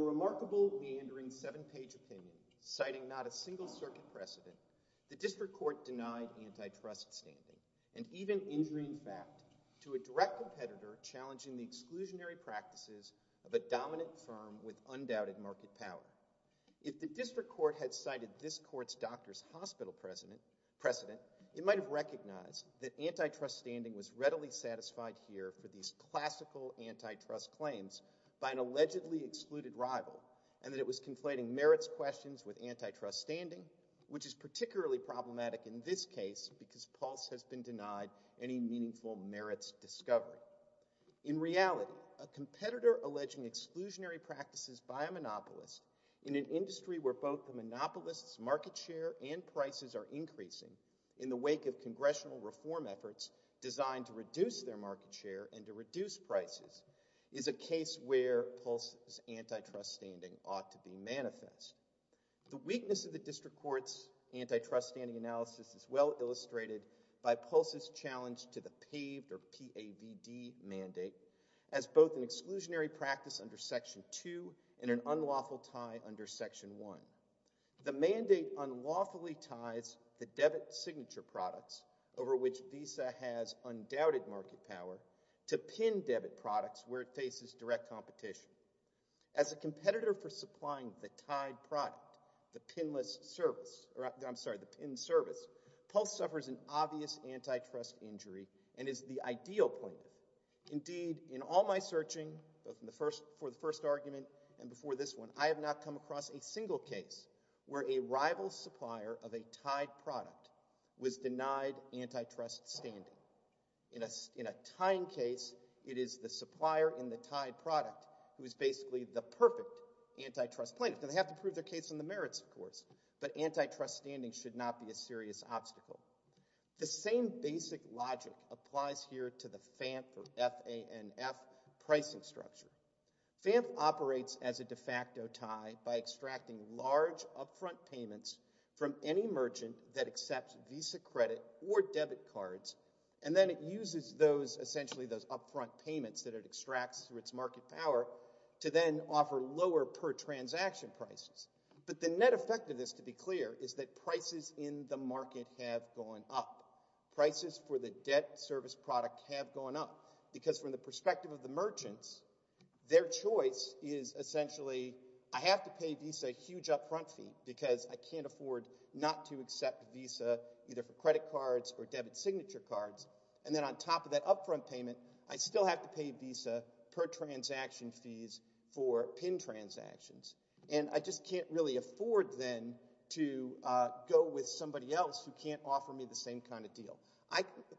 A remarkable, meandering, 7-page opinion citing not a single circuit precedent, the District Court denied antitrust standing, and even injury in fact, to a direct competitor challenging the exclusionary practices of a dominant firm with undoubted market power. If the District Court had cited this court's doctor's hospital precedent, it might have recognized that antitrust standing was readily satisfied here for these classical antitrust claims by an allegedly excluded rival, and that it was conflating merits questions with antitrust standing, which is particularly problematic in this case because Pulse has been denied any meaningful merits discovery. In reality, a competitor alleging exclusionary practices by a monopolist in an industry where both the monopolist's market share and prices are increasing in the wake of congressional reform efforts designed to reduce their market share and to reduce prices is a case where Pulse's antitrust standing ought to be manifest. The weakness of the District Court's antitrust standing analysis is well illustrated by Pulse's challenge to the PAVD mandate as both an exclusionary practice under Section 2 and an unlawful tie under Section 1. The mandate unlawfully ties the debit signature products over which Visa has undoubted market power to pin debit products where it faces direct competition. As a competitor for supplying the tied product, the pin service, Pulse suffers an obvious antitrust injury and is the ideal player. Indeed, in all my searching for the first argument and before this one, I have not come across a single case where a rival supplier of a tied product was denied antitrust standing. In a tying case, it is the supplier in the tied product who is basically the perfect antitrust player. They have to prove their case on the merits, of course, but antitrust standing should not be a serious obstacle. The same basic logic applies here to the FANF pricing structure. FANF operates as a de facto tie by extracting large upfront payments from any merchant that accepts Visa credit or debit cards, and then it uses those, essentially those upfront payments that it extracts through its market power to then offer lower per transaction prices. But the net effect of this, to be clear, is that prices in the market have gone up. Prices for the debt service product have gone up because from the perspective of the merchants, their choice is essentially, I have to pay Visa a huge upfront fee because I can't afford not to accept Visa either for credit cards or debit signature cards, and then on top of that upfront payment, I still have to pay Visa per transaction fees for PIN transactions. And I just can't really afford then to go with somebody else who can't offer me the same kind of deal.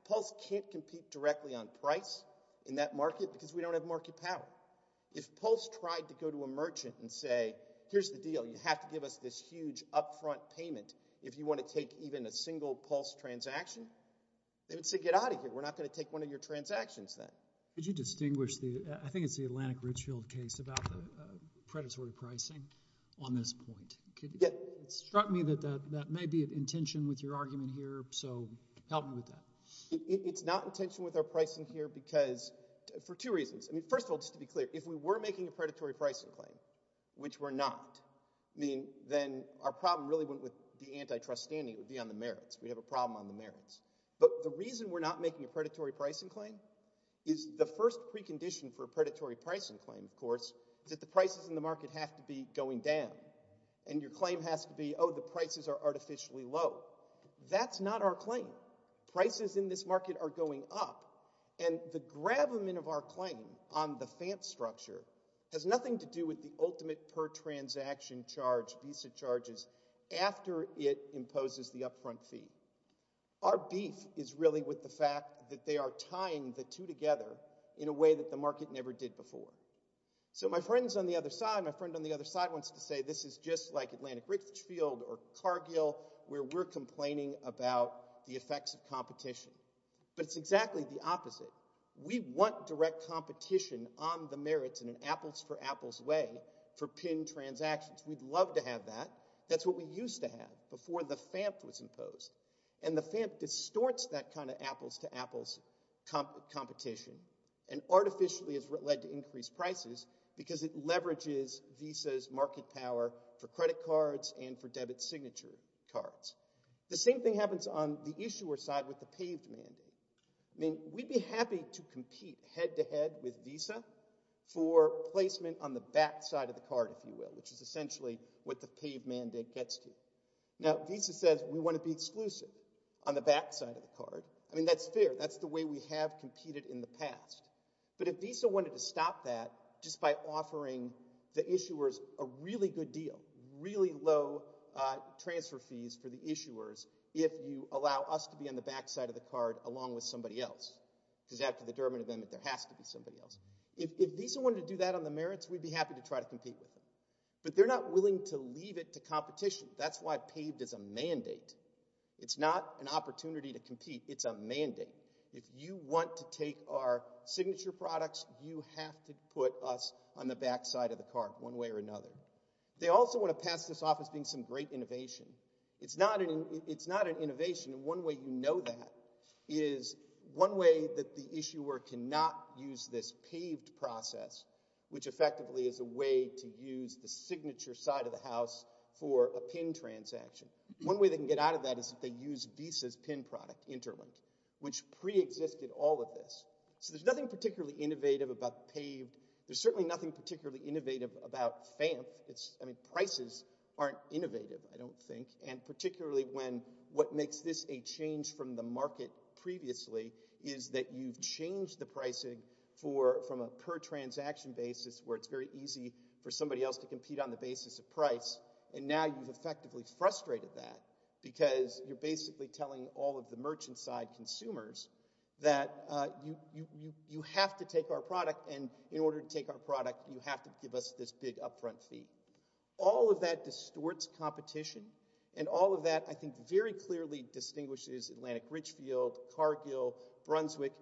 Pulse can't compete directly on price in that market because we don't have market power. If Pulse tried to go to a merchant and say, here's the deal, you have to give us this huge upfront payment if you want to take even a single Pulse transaction, they would say, get out of here. We're not going to take one of your transactions then. Could you distinguish the, I think it's the Atlantic Richfield case about the predatory pricing on this point. It struck me that that may be an intention with your argument here, so help me with that. It's not intention with our pricing here because, for two reasons. First of all, just to be clear, if we were making a predatory pricing claim, which we're not, then our problem really wouldn't be with the antitrust standing, it would be on the merits. We'd have a problem on the merits. But the reason we're not making a predatory pricing claim is the first precondition for a predatory pricing claim, of course, is that the prices in the market have to be going down. And your claim has to be, oh, the prices are artificially low. That's not our claim. Prices in this market are going up. And the gravamen of our claim on the FANT structure has nothing to do with the ultimate per transaction charge, Visa charges, after it imposes the upfront fee. Our beef is really with the fact that they are tying the two together in a way that the market never did before. So my friends on the other side, my friend on the other side wants to say this is just like Atlantic Richfield or Cargill where we're complaining about the effects of competition. But it's exactly the opposite. We want direct competition on the merits in an apples-for-apples way for pin transactions. We'd love to have that. That's what we used to have before the FANT was imposed. And the FANT distorts that kind of apples-to-apples competition and artificially has led to increased prices because it leverages Visa's market power for credit cards and for debit signature cards. The same thing happens on the issuer side with the paved mandate. I mean, we'd be happy to compete head-to-head with Visa for placement on the back side of the card, if you will, which is essentially what the paved mandate gets to. Now, Visa says we want to be exclusive on the back side of the card. I mean, that's fair. That's the way we have competed in the past. But if Visa wanted to stop that just by offering the issuers a really good deal, really low transfer fees for the issuers, if you allow us to be on the back side of the card along with somebody else, because after the Durbin event, there has to be somebody else. If Visa wanted to do that on the merits, we'd be happy to try to compete with them. But they're not willing to leave it to competition. That's why paved is a mandate. It's not an opportunity to compete. It's a mandate. If you want to take our signature products, you have to put us on the back side of the card, one way or another. They also want to pass this off as being some great innovation. It's not an innovation. And one way you know that is one way that the issuer cannot use this paved process, which effectively is a way to use the signature side of the house for a PIN transaction. One way they can get out of that is if they use Visa's PIN product, Interlink, which preexisted all of this. So there's nothing particularly innovative about paved. There's certainly nothing particularly innovative about FAMF. Prices aren't innovative, I don't think. And particularly when what makes this a change from the market previously is that you've changed the pricing from a per transaction basis where it's very easy for somebody else to compete on the basis of price. And now you've effectively frustrated that because you're basically telling all of the merchant side consumers that you have to take our product. And in order to take our product, you have to give us this big upfront fee. All of that distorts competition. And all of that, I think, very clearly distinguishes Atlantic Richfield, Cargill, Brunswick.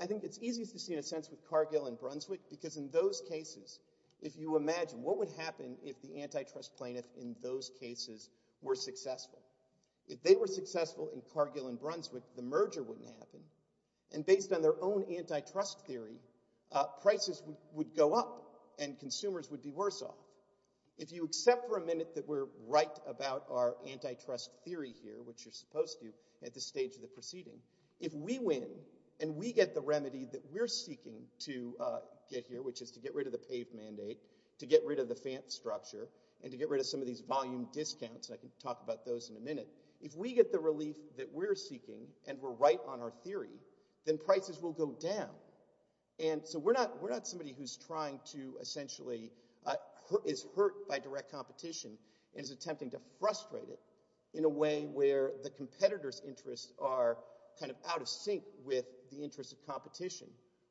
I think it's easiest to see in a sense with Cargill and Brunswick because in those cases, if you imagine what would happen if the antitrust plaintiff in those cases were successful. If they were successful in Cargill and Brunswick, the merger wouldn't happen. And based on their own antitrust theory, prices would go up and consumers would be worse off. If you accept for a minute that we're right about our antitrust theory here, which you're supposed to at this stage of the proceeding, if we win and we get the remedy that we're to get rid of the FAMP structure and to get rid of some of these volume discounts, I can talk about those in a minute, if we get the relief that we're seeking and we're right on our theory, then prices will go down. And so we're not somebody who's trying to essentially, is hurt by direct competition and is attempting to frustrate it in a way where the competitors' interests are kind of out of sync with the interests of competition.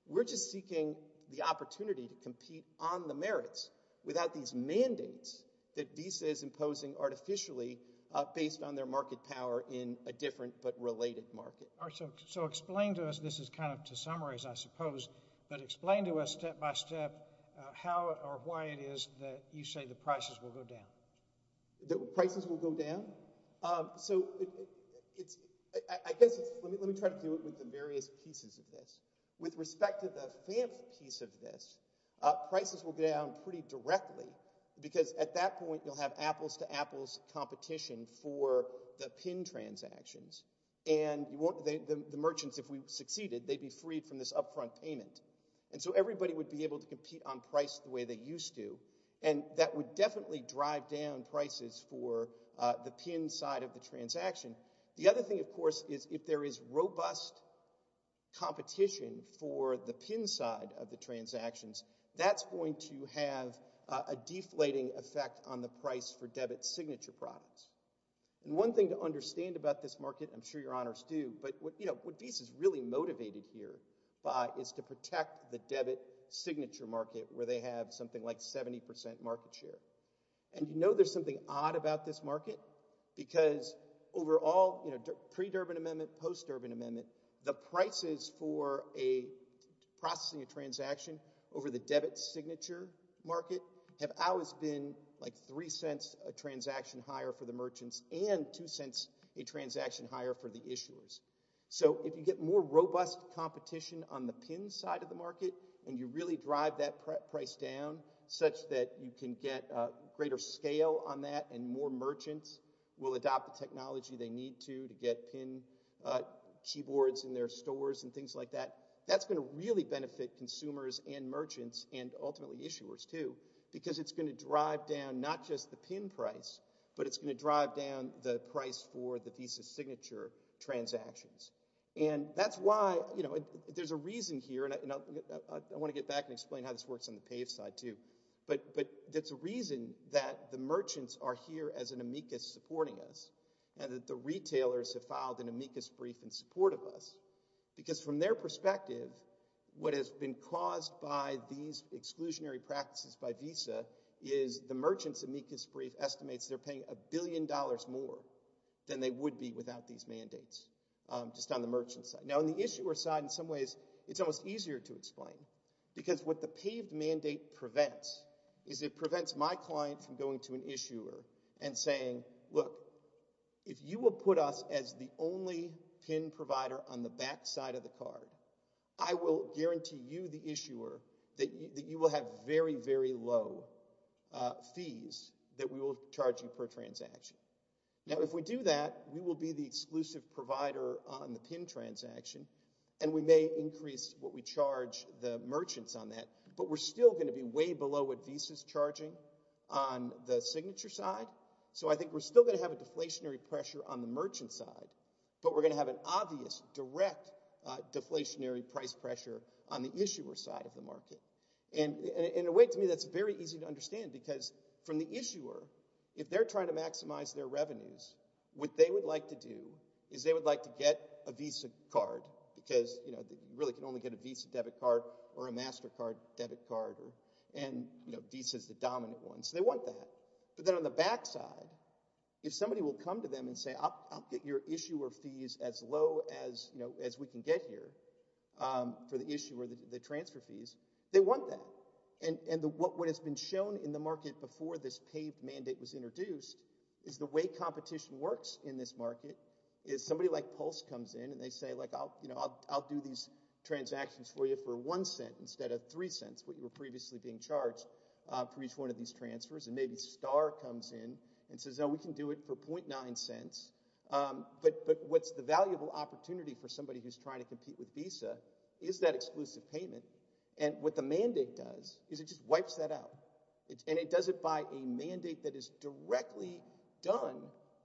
We're just seeking the opportunity to compete on the merits without these mandates that Visa is imposing artificially based on their market power in a different but related market. So explain to us, this is kind of to summarize I suppose, but explain to us step by step how or why it is that you say the prices will go down. The prices will go down? So I guess, let me try to do it with the various pieces of this. With respect to the FAMP piece of this, prices will go down pretty directly because at that point you'll have apples to apples competition for the PIN transactions and the merchants, if we succeeded, they'd be freed from this upfront payment. And so everybody would be able to compete on price the way they used to and that would definitely drive down prices for the PIN side of the transaction. The other thing of course is if there is robust competition for the PIN side of the transactions, that's going to have a deflating effect on the price for debit signature products. And one thing to understand about this market, I'm sure your honors do, but what Visa's really motivated here by is to protect the debit signature market where they have something like 70% market share. And you know there's something odd about this market because overall, pre-Durban amendment, post-Durban amendment, the prices for processing a transaction over the debit signature market have always been like $0.03 a transaction higher for the merchants and $0.02 a transaction higher for the issuers. So if you get more robust competition on the PIN side of the market and you really drive that price down such that you can get greater scale on that and more merchants will adopt the technology they need to to get PIN keyboards in their stores and things like that, that's going to really benefit consumers and merchants and ultimately issuers too because it's going to drive down not just the PIN price, but it's going to drive down the price for the Visa signature transactions. And that's why, you know, there's a reason here, and I want to get back and explain how this works on the PAVE side too, but it's a reason that the merchants are here as an amicus supporting us and that the retailers have filed an amicus brief in support of us because from their perspective, what has been caused by these exclusionary practices by Visa is the merchants' amicus brief estimates they're paying a billion dollars more than they would be without these mandates just on the merchant side. Now, on the issuer side, in some ways, it's almost easier to explain because what the PAVE mandate prevents is it prevents my client from going to an issuer and saying, look, if you will put us as the only PIN provider on the back side of the card, I will guarantee you, the issuer, that you will have very, very low fees that we will charge you per transaction. Now, if we do that, we will be the exclusive provider on the PIN transaction, and we may increase what we charge the merchants on that, but we're still going to be way below what Visa's charging on the signature side. So, I think we're still going to have a deflationary pressure on the merchant side, but we're going to have an obvious, direct deflationary price pressure on the issuer side of the market. And in a way, to me, that's very easy to understand because from the issuer, if they're trying to maximize their revenues, what they would like to do is they would like to get a Visa card because, you know, you really can only get a Visa debit card or a Mastercard debit card, and, you know, Visa's the dominant one, so they want that. But then on the back side, if somebody will come to them and say, I'll get your issuer fees as low as, you know, as we can get here for the issuer, the transfer fees, they want that. And what has been shown in the market before this paid mandate was introduced is the way competition works in this market is somebody like Pulse comes in and they say, like, you know, I'll do these transactions for you for one cent instead of three cents, what you were previously being charged for each one of these transfers. And maybe Star comes in and says, oh, we can do it for .9 cents, but what's the valuable opportunity for somebody who's trying to compete with Visa is that exclusive payment. And what the mandate does is it just wipes that out, and it does it by a mandate that is directly done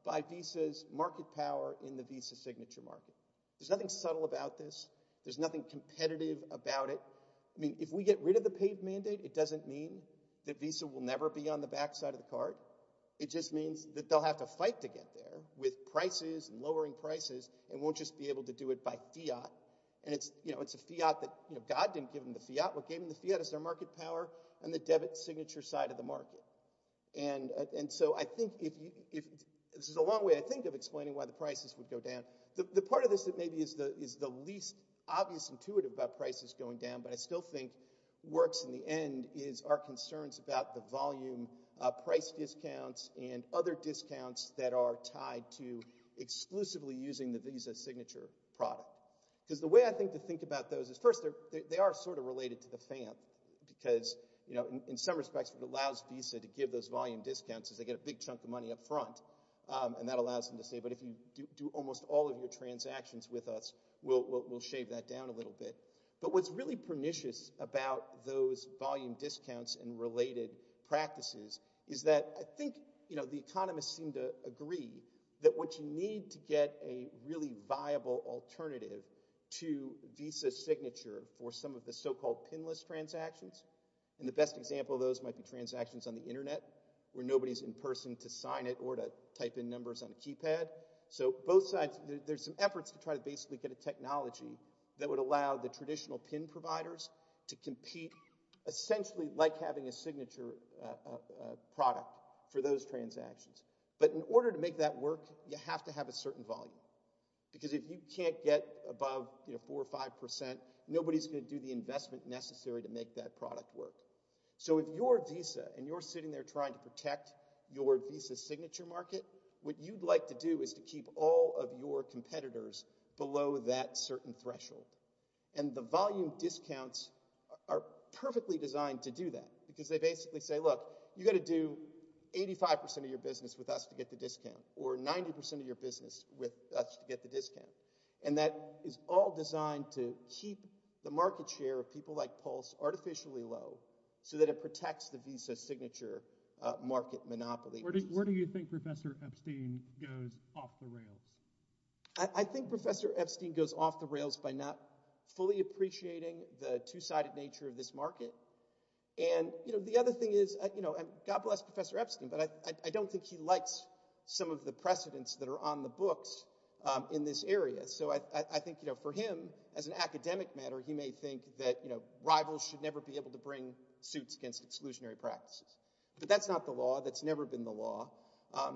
by Visa's market power in the Visa signature market. There's nothing subtle about this. There's nothing competitive about it. I mean, if we get rid of the paid mandate, it doesn't mean that Visa will never be on the back side of the card. It just means that they'll have to fight to get there with prices and lowering prices and won't just be able to do it by fiat. And it's, you know, it's a fiat that, you know, God didn't give them the fiat. What gave them the fiat is their market power and the debit signature side of the market. And so I think if you, this is a long way, I think, of explaining why the prices would go down. The part of this that maybe is the least obvious intuitive about prices going down, but I still think works in the end, is our concerns about the volume price discounts and other discounts that are tied to exclusively using the Visa signature product. Because the way I think to think about those is, first, they are sort of related to the FAM, because, you know, in some respects, what allows Visa to give those volume discounts is they get a big chunk of money up front. And that allows them to say, but if you do almost all of your transactions with us, we'll shave that down a little bit. But what's really pernicious about those volume discounts and related practices is that I think, you know, the economists seem to agree that what you need to get a really viable alternative to Visa signature for some of the so-called pinless transactions, and the best example of those might be transactions on the internet, where nobody's in person to sign it or to type in numbers on a keypad. So both sides, there's some efforts to try to basically get a technology that would allow the traditional pin providers to compete, essentially like having a signature product for those transactions. But in order to make that work, you have to have a certain volume. Because if you can't get above, you know, 4 or 5 percent, nobody's going to do the investment necessary to make that product work. So if you're Visa and you're sitting there trying to protect your Visa signature market, what you'd like to do is to keep all of your competitors below that certain threshold. And the volume discounts are perfectly designed to do that, because they basically say, look, you've got to do 85 percent of your business with us to get the discount, or 90 percent of your business with us to get the discount. And that is all designed to keep the market share of people like Pulse artificially low so that it protects the Visa signature market monopoly. Where do you think Professor Epstein goes off the rails? I think Professor Epstein goes off the rails by not fully appreciating the two-sided nature of this market. And, you know, the other thing is, you know, and God bless Professor Epstein, but I don't think he likes some of the precedents that are on the books in this area. So I think, you know, for him, as an academic matter, he may think that, you know, rivals should never be able to bring suits against exclusionary practices. But that's not the law. That's never been the law.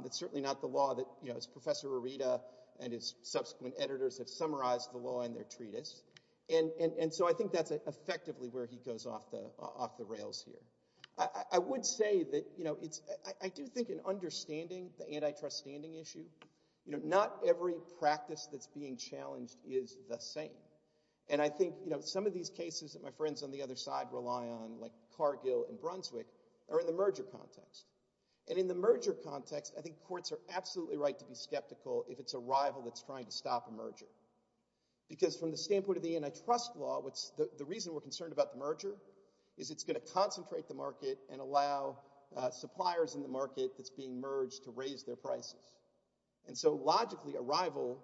It's certainly not the law that, you know, as Professor Arita and his subsequent editors have summarized the law in their treatise. And so I think that's effectively where he goes off the rails here. I would say that, you know, I do think in understanding the antitrust standing issue, you know, not every practice that's being challenged is the same. And I think, you know, some of these cases that my friends on the other side rely on, like Cargill and Brunswick, are in the merger context. And in the merger context, I think courts are absolutely right to be skeptical if it's a rival that's trying to stop a merger. Because from the standpoint of the antitrust law, the reason we're concerned about the merger is it's going to concentrate the market and allow suppliers in the market that's being merged to raise their prices. And so logically, a rival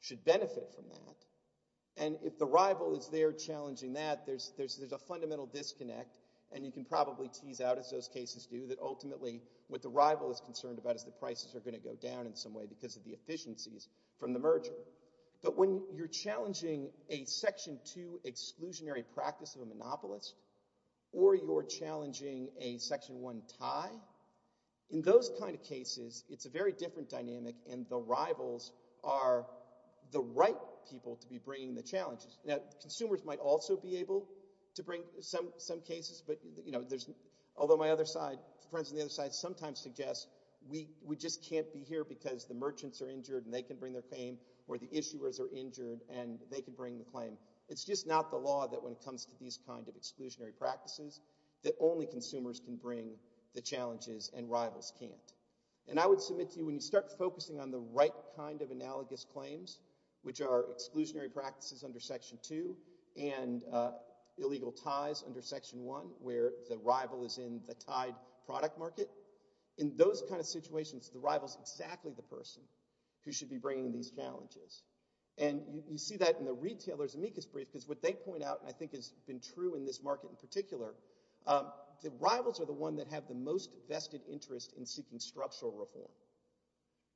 should benefit from that. And if the rival is there challenging that, there's a fundamental disconnect. And you can probably tease out, as those cases do, that ultimately what the rival is concerned about is the prices are going to go down in some way because of the efficiencies from the merger. But when you're challenging a Section 2 exclusionary practice of a monopolist or you're challenging a Section 1 tie, in those kind of cases, it's a very different dynamic and the rivals are the right people to be bringing the challenges. Now, consumers might also be able to bring some cases. Although my friends on the other side sometimes suggest we just can't be here because the merchants are injured and they can bring their claim or the issuers are injured and they can bring the claim. It's just not the law that when it comes to these kind of exclusionary practices that only consumers can bring the challenges and rivals can't. And I would submit to you, when you start focusing on the right kind of analogous claims, which are exclusionary practices under Section 2 and illegal ties under Section 1, where the rival is in the tied product market, in those kind of situations, the rival is exactly the person who should be bringing these challenges. And you see that in the retailers' amicus brief because what they point out, I think, has been true in this market in particular, the rivals are the ones that have the most interest in structural reform.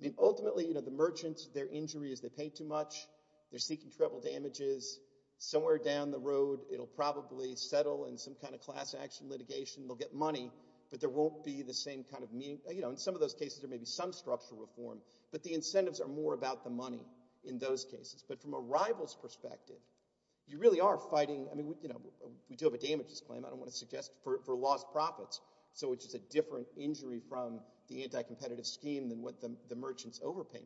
I mean, ultimately, you know, the merchants, their injury is they pay too much. They're seeking travel damages. Somewhere down the road, it'll probably settle in some kind of class action litigation. They'll get money, but there won't be the same kind of meaning. You know, in some of those cases, there may be some structural reform, but the incentives are more about the money in those cases. But from a rival's perspective, you really are fighting. I mean, you know, we do have a damages claim, I don't want to suggest, for lost profits, which is a different injury from the anti-competitive scheme than what the merchants overpay.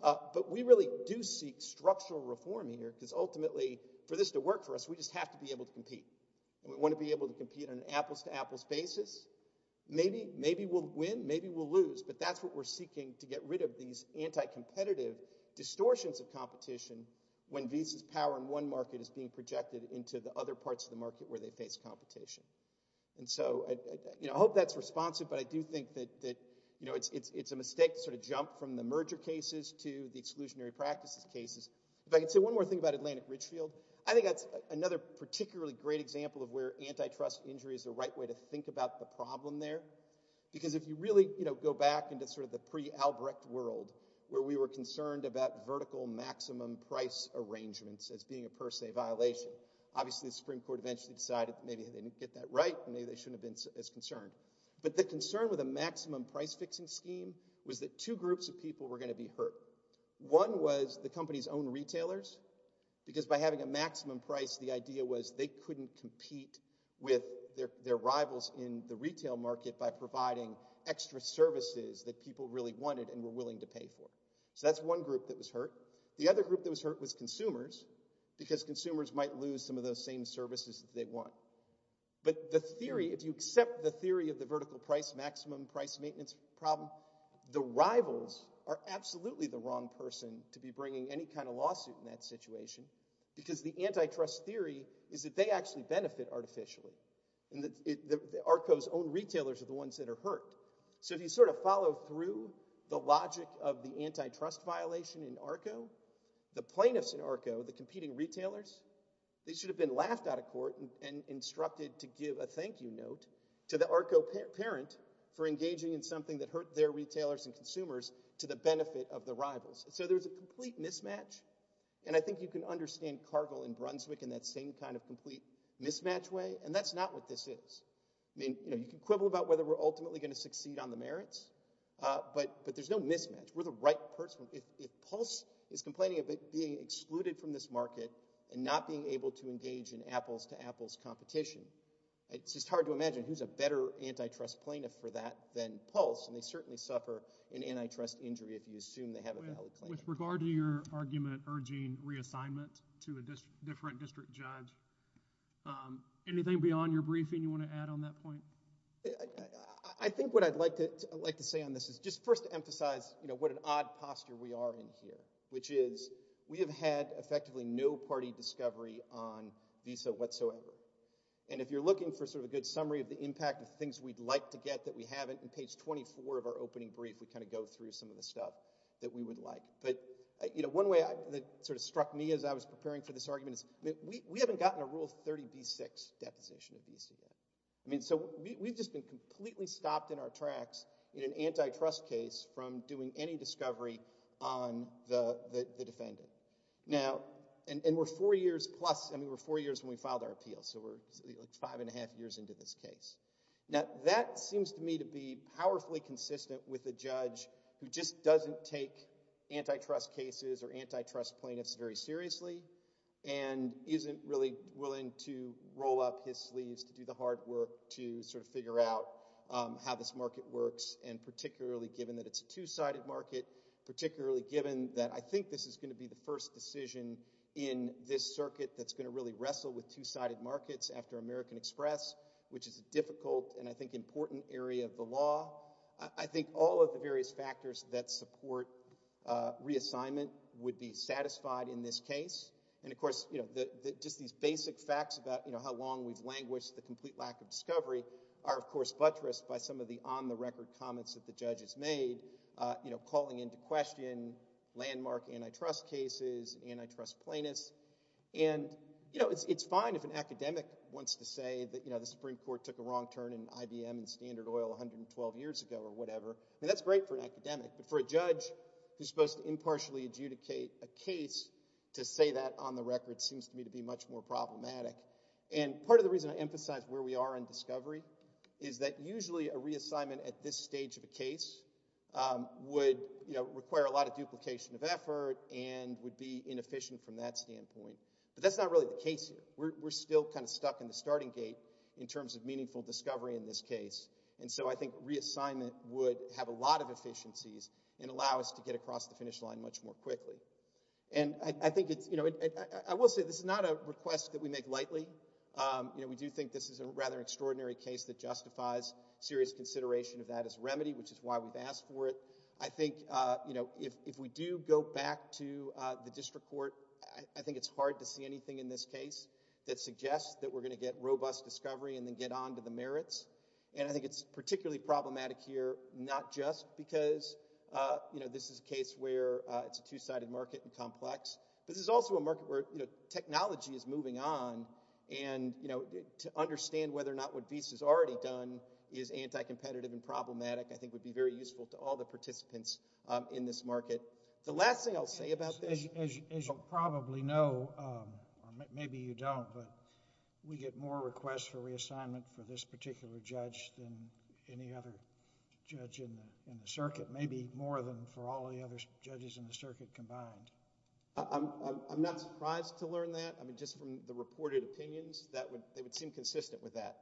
But we really do seek structural reform here because ultimately, for this to work for us, we just have to be able to compete. And we want to be able to compete on an apples-to-apples basis. Maybe we'll win, maybe we'll lose, but that's what we're seeking to get rid of, these anti-competitive distortions of competition when Visa's power in one market is being projected into the other parts of the market where they face competition. And so, you know, I hope that's responsive, but I do think that, you know, it's a mistake to sort of jump from the merger cases to the exclusionary practices cases. If I could say one more thing about Atlantic Ridgefield, I think that's another particularly great example of where antitrust injury is the right way to think about the problem there. Because if you really, you know, go back into sort of the pre-Albrecht world, where we were concerned about vertical maximum price arrangements as being a per se violation, obviously the Supreme Court eventually decided maybe they didn't get that right, maybe they shouldn't have been as concerned. But the concern with a maximum price fixing scheme was that two groups of people were going to be hurt. One was the company's own retailers, because by having a maximum price, the idea was they couldn't compete with their rivals in the retail market by providing extra services that people really wanted and were willing to pay for. So that's one group that was hurt. The other group that was hurt was consumers, because consumers might lose some of those same services that they want. But the theory, if you accept the theory of the vertical price maximum price maintenance problem, the rivals are absolutely the wrong person to be bringing any kind of lawsuit in that situation, because the antitrust theory is that they actually benefit artificially. And ARCO's own retailers are the ones that are hurt. So if you sort of follow through the logic of the antitrust violation in ARCO, the plaintiffs in ARCO, the competing retailers, they should have been laughed out of court and instructed to give a thank you note to the ARCO parent for engaging in something that hurt their retailers and consumers to the benefit of the rivals. So there's a complete mismatch, and I think you can understand Cargill and Brunswick in that same kind of complete mismatch way, and that's not what this is. You can quibble about whether we're ultimately going to succeed on the merits, but there's no mismatch. We're the right person. If Pulse is complaining about being excluded from this market and not being able to engage in apples-to-apples competition, it's just hard to imagine who's a better antitrust plaintiff for that than Pulse, and they certainly suffer an antitrust injury if you assume they have a valid claim. With regard to your argument urging reassignment to a different district judge, anything beyond your briefing you want to add on that point? I think what I'd like to say on this is just first to emphasize what an odd posture we are in here, which is we have had effectively no party discovery on Visa whatsoever, and if you're looking for sort of a good summary of the impact of things we'd like to get that we haven't, on page 24 of our opening brief we kind of go through some of the stuff that we would like. But one way that sort of struck me as I was preparing for this argument is we haven't gotten a Rule 30b-6 deposition of Visa. I mean, so we've just been completely stopped in our tracks in an antitrust case from doing any discovery on the defendant. Now, and we're four years plus, I mean, we're four years when we filed our appeal, so we're five and a half years into this case. Now, that seems to me to be powerfully consistent with a judge who just doesn't take antitrust cases or antitrust plaintiffs very seriously, and isn't really willing to roll up his sleeves to do the hard work to sort of figure out how this market works, and particularly given that it's a two-sided market, particularly given that I think this is going to be the first decision in this circuit that's going to really wrestle with two-sided markets after American Express, which is a difficult and I think important area of the law. I think all of the various factors that support reassignment would be satisfied in this case. And, of course, just these basic facts about how long we've languished the complete lack of discovery are, of course, buttressed by some of the on-the-record comments that the judges made, calling into question landmark antitrust cases, antitrust plaintiffs. And it's fine if an academic wants to say that the Supreme Court took a wrong turn in IBM and Standard Oil 112 years ago or whatever. I mean, that's great for an academic, but for a judge who's supposed to impartially adjudicate a case, to say that on the record seems to me to be much more problematic. And part of the reason I emphasize where we are in discovery is that usually a reassignment at this stage of a case would require a lot of duplication of effort and would be inefficient from that standpoint. But that's not really the case here. We're still kind of stuck in the starting gate in terms of meaningful discovery in this case. And so I think reassignment would have a lot of efficiencies and allow us to get across the finish line much more quickly. And I think it's, you know, I will say this is not a request that we make lightly. You know, we do think this is a rather extraordinary case that justifies serious consideration of that as remedy, which is why we've asked for it. I think, you know, if we do go back to the district court, I think it's hard to see anything in this case that suggests that we're going to get robust discovery and then get on to the merits. And I think it's particularly problematic here, not just because, you know, this is a case where it's a two-sided market and complex. This is also a market where, you know, technology is moving on and, you know, to understand whether or not what Visa's already done is anti-competitive and problematic I think would be very useful to all the participants in this market. The last thing I'll say about this... As you probably know, or maybe you don't, but we get more requests for reassignment for this particular judge than any other judge in the circuit, maybe more than for all the other judges in the circuit combined. I'm not surprised to learn that. I mean, just from the reported opinions, they would seem consistent with that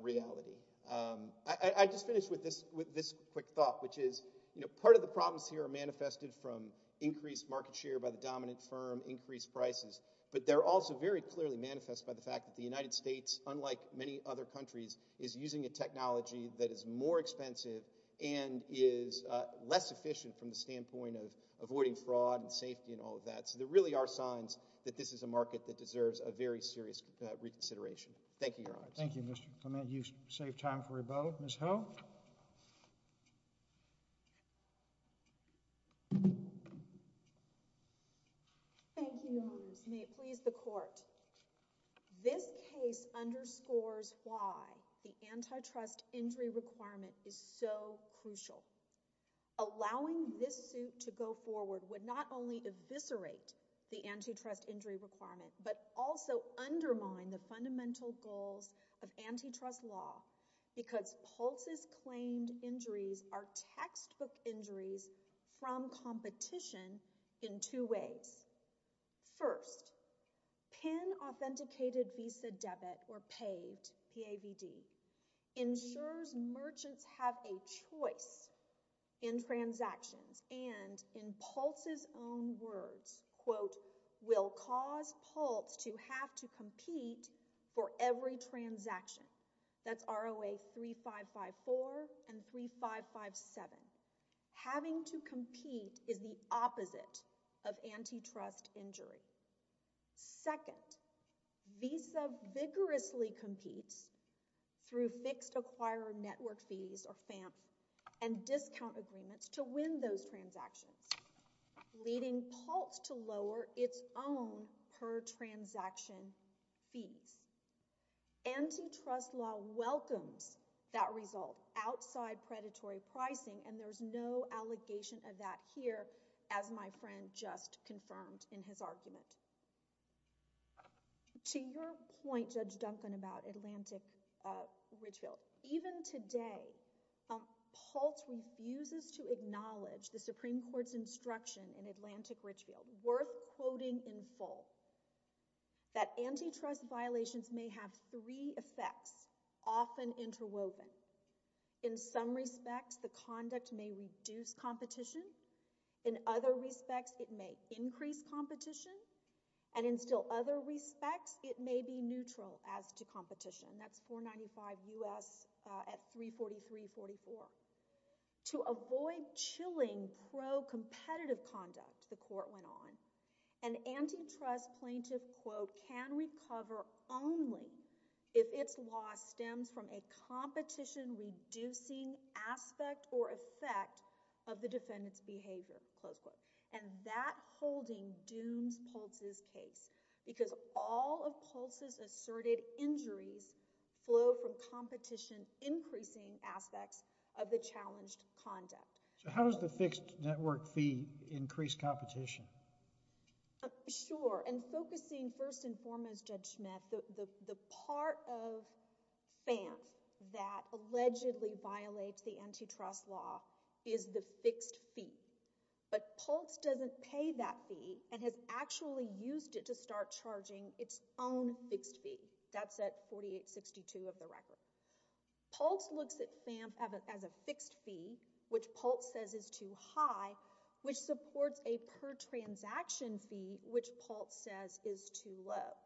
reality. I just finished with this quick thought, which is, you know, part of the problems here are manifested from increased market share by the dominant firm, increased prices, but they're also very clearly manifest by the fact that the United States, unlike many other countries, is using a technology that is more expensive and is less efficient from the standpoint of avoiding fraud and safety and all of that. So there really are signs that this is a market that deserves a very serious reconsideration. Thank you, Your Honors. Thank you, Mr. Clement. And you've saved time for your vote. Ms. Hill? Thank you, Your Honors. May it please the Court. This case underscores why the antitrust injury requirement is so crucial. Allowing this suit to go forward would not only eviscerate the antitrust injury requirement, but also undermine the fundamental goals of antitrust law, because Pulse's claimed injuries are textbook injuries from competition in two ways. First, PIN-authenticated visa debit, or PAVD, ensures merchants have a choice in transactions and, in Pulse's own words, quote, will cause Pulse to have to compete for every transaction. That's ROA 3554 and 3557. Having to compete is the opposite of antitrust injury. Second, visa vigorously competes through fixed acquirer network fees, or FAMF, and discount agreements to win those transactions, leading Pulse to lower its own per-transaction fees. Antitrust law welcomes that result outside predatory pricing, and there's no allegation of that here, as my friend just confirmed in his argument. To your point, Judge Duncan, about Atlantic Richfield, even today, Pulse refuses to acknowledge the Supreme Court's instruction in Atlantic Richfield, worth quoting in full, that antitrust violations may have three effects, often interwoven. In some respects, the conduct may reduce competition, in other respects, it may increase competition, and in still other respects, it may be neutral as to competition. That's 495 U.S. at 343-44. To avoid chilling pro-competitive conduct, the court went on, an antitrust plaintiff, quote, can recover only if its law stems from a competition-reducing aspect or effect of the defendant's behavior, close quote. And that holding dooms Pulse's case, because all of Pulse's asserted injuries flow from competition-increasing aspects of the challenged conduct. So how does the fixed network fee increase competition? Sure, and focusing first and foremost, Judge Schmidt, the part of FAMF that allegedly violates the antitrust law is the fixed fee. But Pulse doesn't pay that fee and has actually used it to start charging its own fixed fee. That's at 4862 of the record. Pulse looks at FAMF as a fixed fee, which Pulse says is too high, which supports a per-transaction fee, which Pulse says is too low.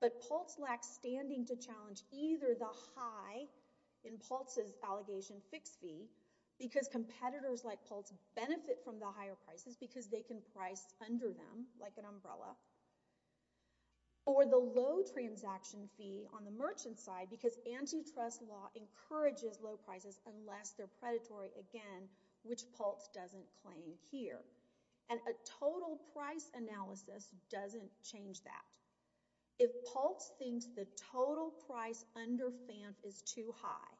But Pulse lacks standing to challenge either the high in Pulse's allegation fixed fee because competitors like Pulse benefit from the higher prices because they can price under them like an umbrella, or the low transaction fee on the merchant's side because antitrust law encourages low prices unless they're predatory again, which Pulse doesn't claim here. And a total price analysis doesn't change that. If Pulse thinks the total price under FAMF is too high,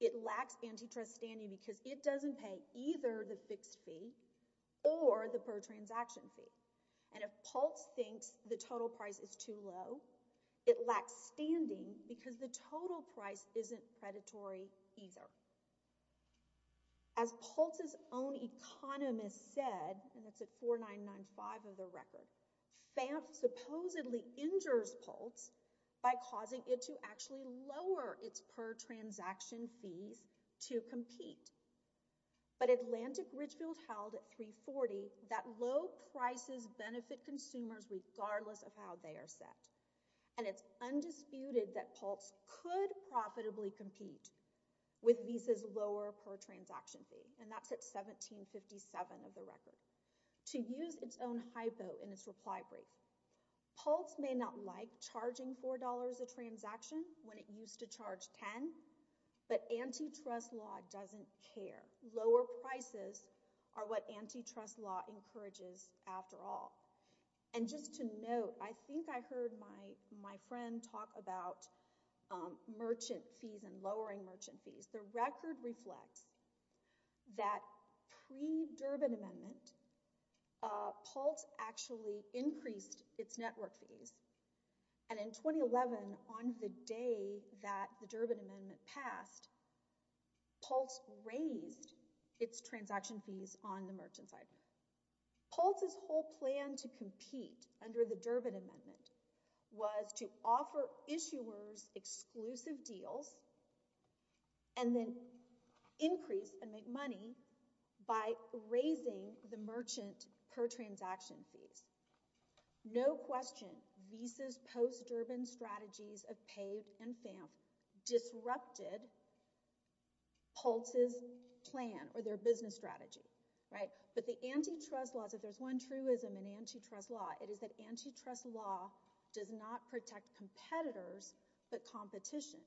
it lacks antitrust standing because it doesn't pay either the fixed fee or the per-transaction fee. And if Pulse thinks the total price is too low, it lacks standing because the total price isn't predatory either. As Pulse's own economist said, and it's at 4995 of the record, FAMF supposedly injures Pulse by causing it to actually lower its per-transaction fees to compete. But Atlantic Ridgefield held at 340 that low prices benefit consumers regardless of how they are set. And it's undisputed that Pulse could profitably compete with Visa's lower per- transaction fee, and that's at 1757 of the record. To use its own hypo in its reply brief, Pulse may not like charging $4 a transaction when it used to charge $10, but antitrust law doesn't care. Lower prices are what antitrust law encourages after all. And just to note, I think I heard my friend talk about merchant fees and lowering merchant fees. The record reflects that pre-Durbin Amendment, Pulse actually increased its network fees, and in 2011 on the day that the Durbin Amendment passed, Pulse raised its transaction fees on the merchant side. Pulse's whole plan to compete under the Durbin Amendment was to offer issuers exclusive deals and then increase and make merchant per-transaction fees. No question, Visa's post-Durbin strategies of PAVE and FAMF disrupted Pulse's plan or their business strategy, right? But the antitrust laws, if there's one truism in antitrust law, it is that antitrust law does not protect competitors but competition.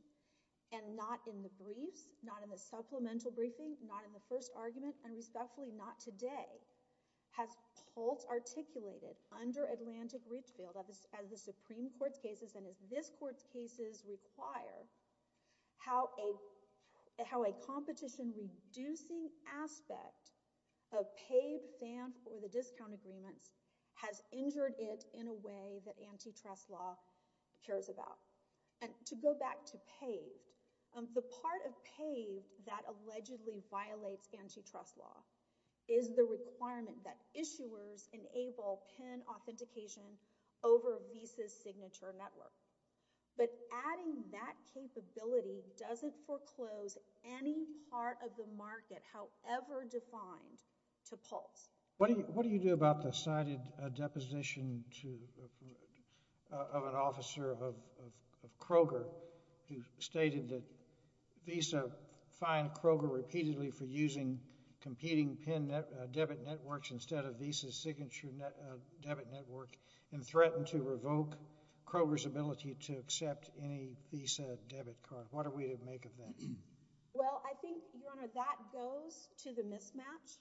And not in the briefs, not in the supplemental briefing, not in the first argument, and respectfully not today, has Pulse articulated under Atlantic Richfield, as the Supreme Court's cases and as this Court's cases require, how a competition-reducing aspect of PAVE, FAMF, or the discount agreements has injured it in a way that antitrust law cares about. And to go back to PAVE, the part of PAVE that allegedly violates antitrust law is the requirement that issuers enable PIN authentication over Visa's signature network. But adding that capability doesn't foreclose any part of the market, however defined, to Pulse. What do you do about the cited deposition of an officer of Kroger who stated that Visa fined Kroger repeatedly for using competing PIN debit networks instead of Visa's signature debit network and threatened to revoke Kroger's ability to accept any Visa debit card? What are we to make of that? Well, I think, Your Honor, that goes to the mismatch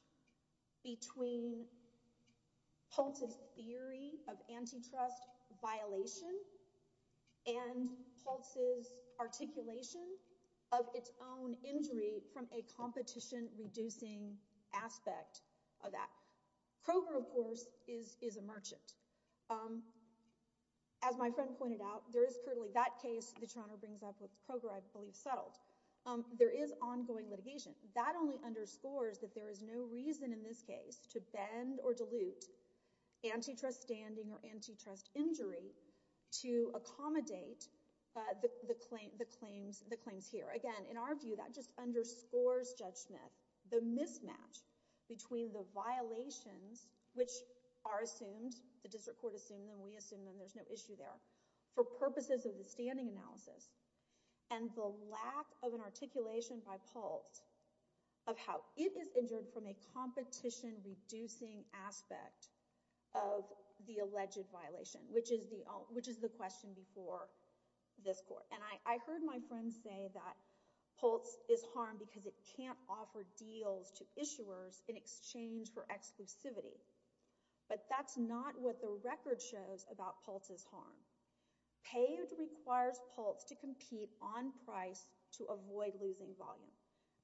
between Pulse's theory of antitrust violation and Pulse's articulation of its own injury from a competition reducing aspect of that. Kroger, of course, is a merchant. As my friend pointed out, there is currently that case that Your Honor brings up with Kroger, I believe, settled. There is ongoing litigation. That only underscores that there is no reason in this case to bend or dilute antitrust standing or antitrust injury to accommodate the claims here. Again, in our view, that just underscores Judge Smith the mismatch between the violations which are assumed, the district court assumed them, we assumed them, there's no issue there, for purposes of the standing analysis and the lack of an articulation by Pulse of how it is injured from a competition reducing aspect of the alleged violation, which is the question before this court. And I heard my friend say that Pulse is harmed because it can't offer deals to issuers in exchange for exclusivity. But that's not what the record shows about Pulse's harm. PAID requires Pulse to compete on the same volume.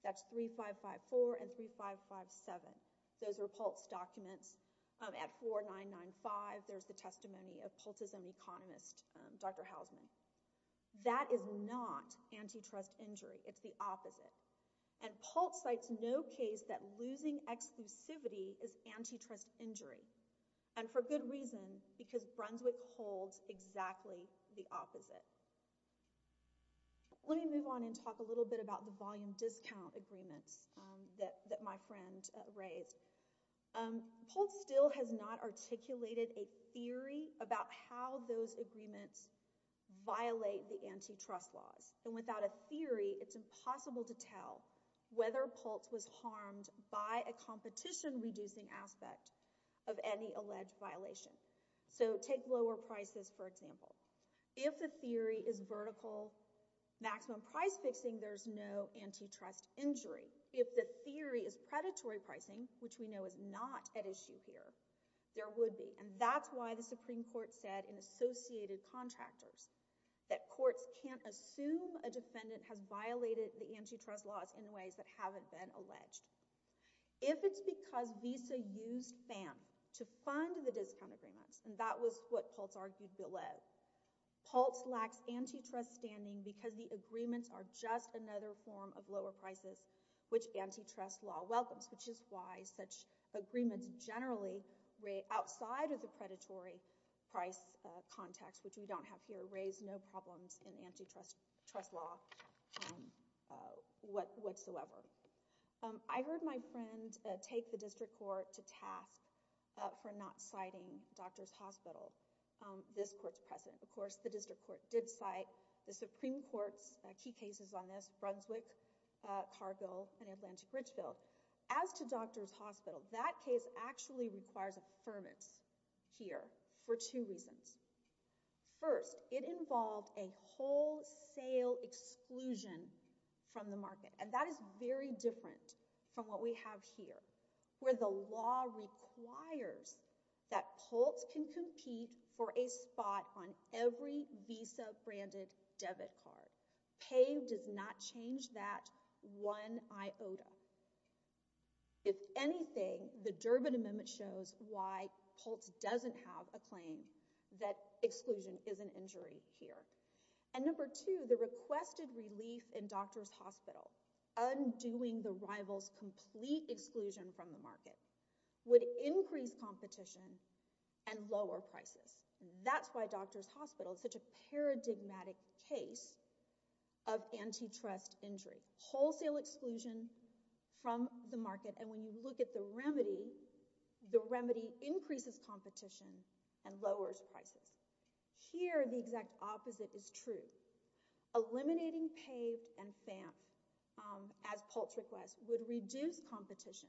That's 3554 and 3557. Those are Pulse documents. At 4995, there's the testimony of Pultism economist, Dr. Hausman. That is not antitrust injury. It's the opposite. And Pulse cites no case that losing exclusivity is antitrust injury. And for good reason, because Brunswick holds exactly the opposite. Let me move on and talk a little bit about the volume discount agreements that my friend raised. Pulse still has not articulated a theory about how those agreements violate the antitrust laws. And without a theory, it's impossible to tell whether Pulse was harmed by a competition reducing aspect of any alleged violation. So take lower prices, for example. If the theory is vertical maximum price fixing, there's no antitrust injury. If the theory is predatory pricing, which we know is not at issue here, there would be. And that's why the Supreme Court said in Associated Contractors that courts can't assume a defendant has violated the antitrust laws in ways that haven't been alleged. If it's because Visa used FAM to fund the discount agreements, and that was what Pulse argued below, Pulse lacks antitrust standing because the agreements are just another form of lower prices which antitrust law welcomes, which is why such agreements generally outside of the predatory price context, which we don't have here, raise no problems in antitrust law whatsoever. I heard my district court to task for not citing Doctors Hospital, this court's precedent. Of course, the district court did cite the Supreme Court's key cases on this, Brunswick, Cargill, and Atlantic Ridgeville. As to Doctors Hospital, that case actually requires affirmance here for two reasons. First, it involved a wholesale exclusion from the market, and that is very different from what we have here, where the law requires that Pulse can compete for a spot on every Visa-branded debit card. PAVE does not change that one iota. If anything, the Durbin Amendment shows why Pulse doesn't have a claim that exclusion is an injury here. And number two, the doing the rival's complete exclusion from the market would increase competition and lower prices. That's why Doctors Hospital is such a paradigmatic case of antitrust injury. Wholesale exclusion from the market, and when you look at the remedy, the remedy increases competition and lowers prices. Here, the exact opposite is true. Eliminating PAVE and FAMP as Pulse requests would reduce competition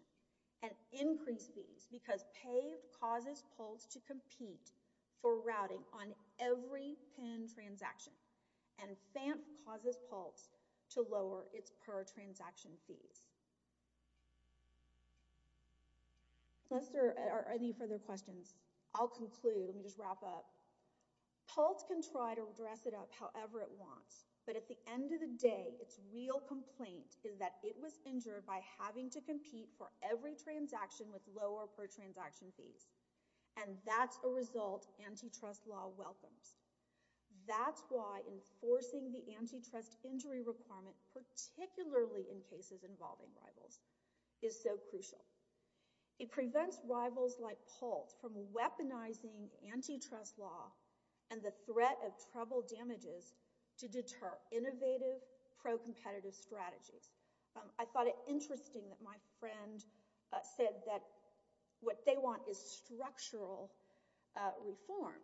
and increase fees, because PAVE causes Pulse to compete for routing on every PIN transaction, and FAMP causes Pulse to lower its per-transaction fees. Unless there are any further questions, I'll conclude and just wrap up. Pulse can try to dress it up however it wants, but at the end of the day, its real complaint is that it was injured by having to compete for every transaction with lower per-transaction fees, and that's a result antitrust law welcomes. That's why enforcing the antitrust injury requirement, particularly in cases involving rivals, is so crucial. It prevents rivals like Pulse from weaponizing antitrust law and the threat of trouble damages to deter innovative pro-competitive strategies. I thought it interesting that my friend said that what they want is structural reform,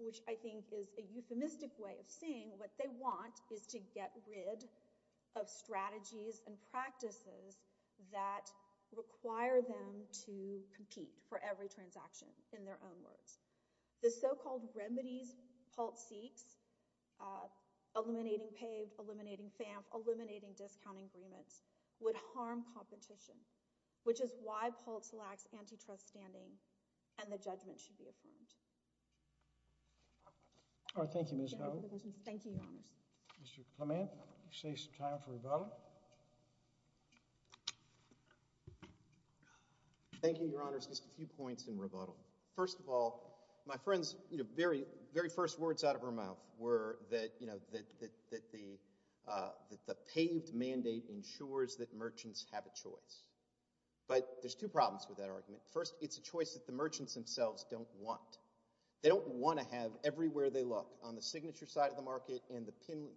which I think is a euphemistic way of saying what they want is to get rid of strategies and practices that require them to compete. The so-called remedies Pulse seeks, eliminating PAVE, eliminating FAMP, eliminating discounting agreements, would harm competition, which is why Pulse lacks antitrust standing, and the judgment should be affirmed. Thank you, Ms. Howard. Thank you, Your Honors. Mr. Clement, you save some time for rebuttal. Thank you, Your Honors. Just a few points in rebuttal. First of all, my friend's very first words out of her mouth were that the PAVE mandate ensures that merchants have a choice. But there's two problems with that argument. First, it's a choice that the merchants themselves don't want. They don't want to have everywhere they look, on the signature side of the market and the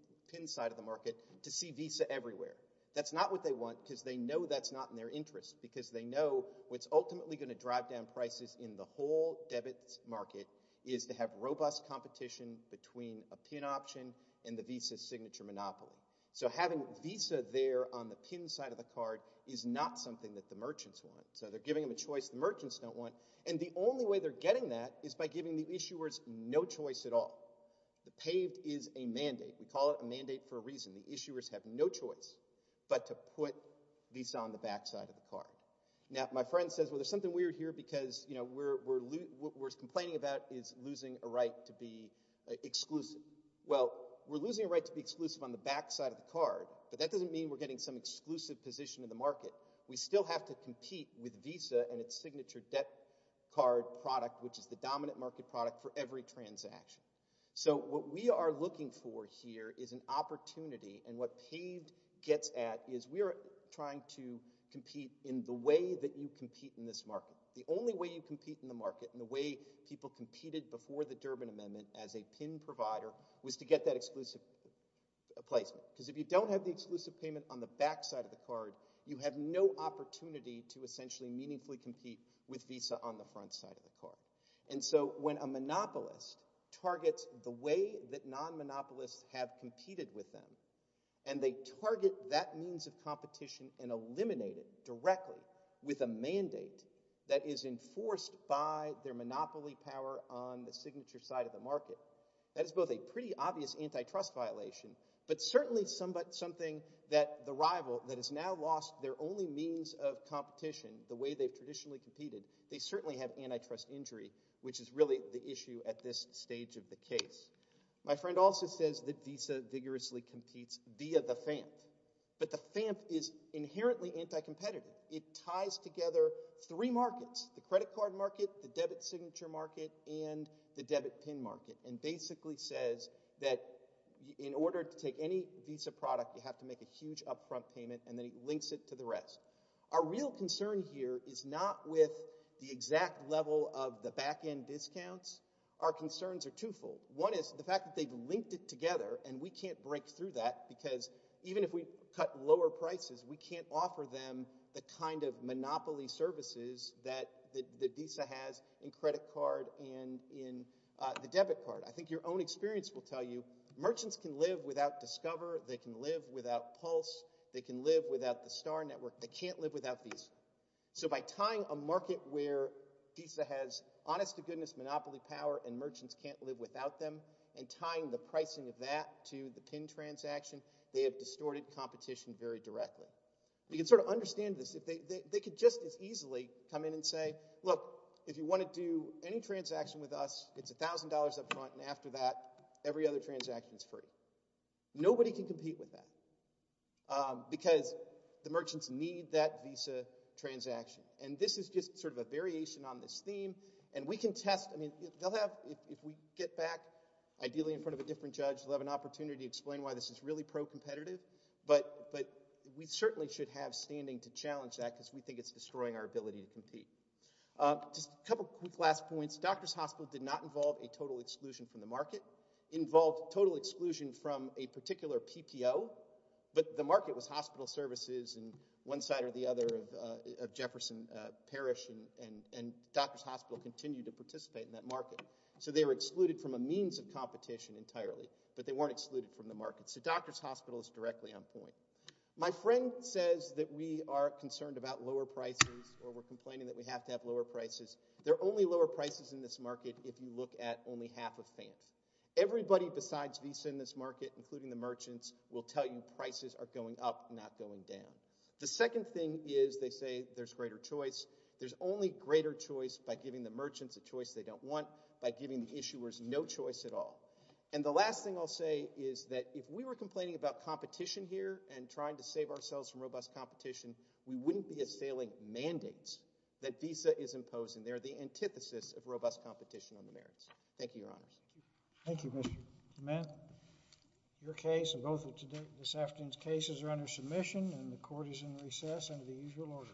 VISA everywhere. That's not what they want because they know that's not in their interest because they know what's ultimately going to drive down prices in the whole debit market is to have robust competition between a PIN option and the VISA signature monopoly. So having VISA there on the PIN side of the card is not something that the merchants want. So they're giving them a choice the merchants don't want. And the only way they're getting that is by giving the issuers no choice at all. The PAVE is a mandate. We call it a mandate for a reason. The issuers have no choice but to put VISA on the back side of the card. Now, my friend says, well, there's something weird here because what we're complaining about is losing a right to be exclusive. Well, we're losing a right to be exclusive on the back side of the card but that doesn't mean we're getting some exclusive position in the market. We still have to compete with VISA and its signature debt card product, which is the dominant market product for every transaction. So what we are looking for here is an opportunity and what PAVE gets at is we're trying to compete in the way that you compete in this market. The only way you compete in the market and the way people competed before the Durbin Amendment as a PIN provider was to get that exclusive placement. Because if you don't have the exclusive payment on the back side of the card, you have no opportunity to essentially meaningfully compete with VISA on the front side of the card. And so when a monopolist targets the way that non-monopolists have competed with them and they target that means of competition and eliminate it directly with a mandate that is enforced by their monopoly power on the signature side of the market, that is both a pretty obvious antitrust violation but certainly something that the rival that has now lost their only means of competition, the way they've traditionally competed, they certainly have antitrust injury, which is really the issue at this stage of the case. My friend also says that VISA vigorously competes via the FAMP. But the FAMP is inherently anti-competitive. It ties together three markets, the credit card market, the debit signature market, and the debit PIN market, and basically says that in order to take any VISA product you have to make a huge upfront payment and then it links it to the rest. Our real concern here is not with the exact level of the back-end discounts. Our concerns are twofold. One is the fact that they've linked it together and we can't break through that because even if we cut lower prices we can't offer them the kind of monopoly services that the VISA has in credit card and in the debit card. I think your own experience will tell you they can live without Pulse, they can live without the Star Network, they can't live without VISA. So by tying a market where VISA has honest-to-goodness monopoly power and merchants can't live without them and tying the pricing of that to the PIN transaction they have distorted competition very directly. You can sort of understand this. They could just as easily come in and say, look, if you want to do any transaction with us, it's $1,000 upfront and after that every other transaction is free. Nobody can compete with that because the merchants need that VISA transaction and this is just sort of a variation on this theme and we can test if we get back, ideally in front of a different judge, they'll have an opportunity to explain why this is really pro-competitive but we certainly should have standing to challenge that because we think it's destroying our ability to compete. Just a couple quick last points. Doctors Hospital did not involve a total exclusion from the market. It involved total exclusion from a particular PPO but the market was hospital services and one side or the other of Jefferson Parish and Doctors Hospital continued to participate in that market. So they were excluded from a means of competition entirely but they weren't excluded from the market. So Doctors Hospital is directly on point. My friend says that we are concerned about lower prices or we're complaining that we have to lower prices in this market if you look at only half of fans. Everybody besides VISA in this market, including the merchants will tell you prices are going up, not going down. The second thing is they say there's greater choice. There's only greater choice by giving the merchants a choice they don't want, by giving the issuers no choice at all. And the last thing I'll say is that if we were complaining about competition here and trying to save ourselves from robust competition, we wouldn't be assailing mandates that VISA is imposing. They're the antithesis of robust competition on the merits. Thank you, Your Honors. Thank you, Mr. McMahon. Your case and both of this afternoon's cases are under submission and the Court is in recess under the usual order.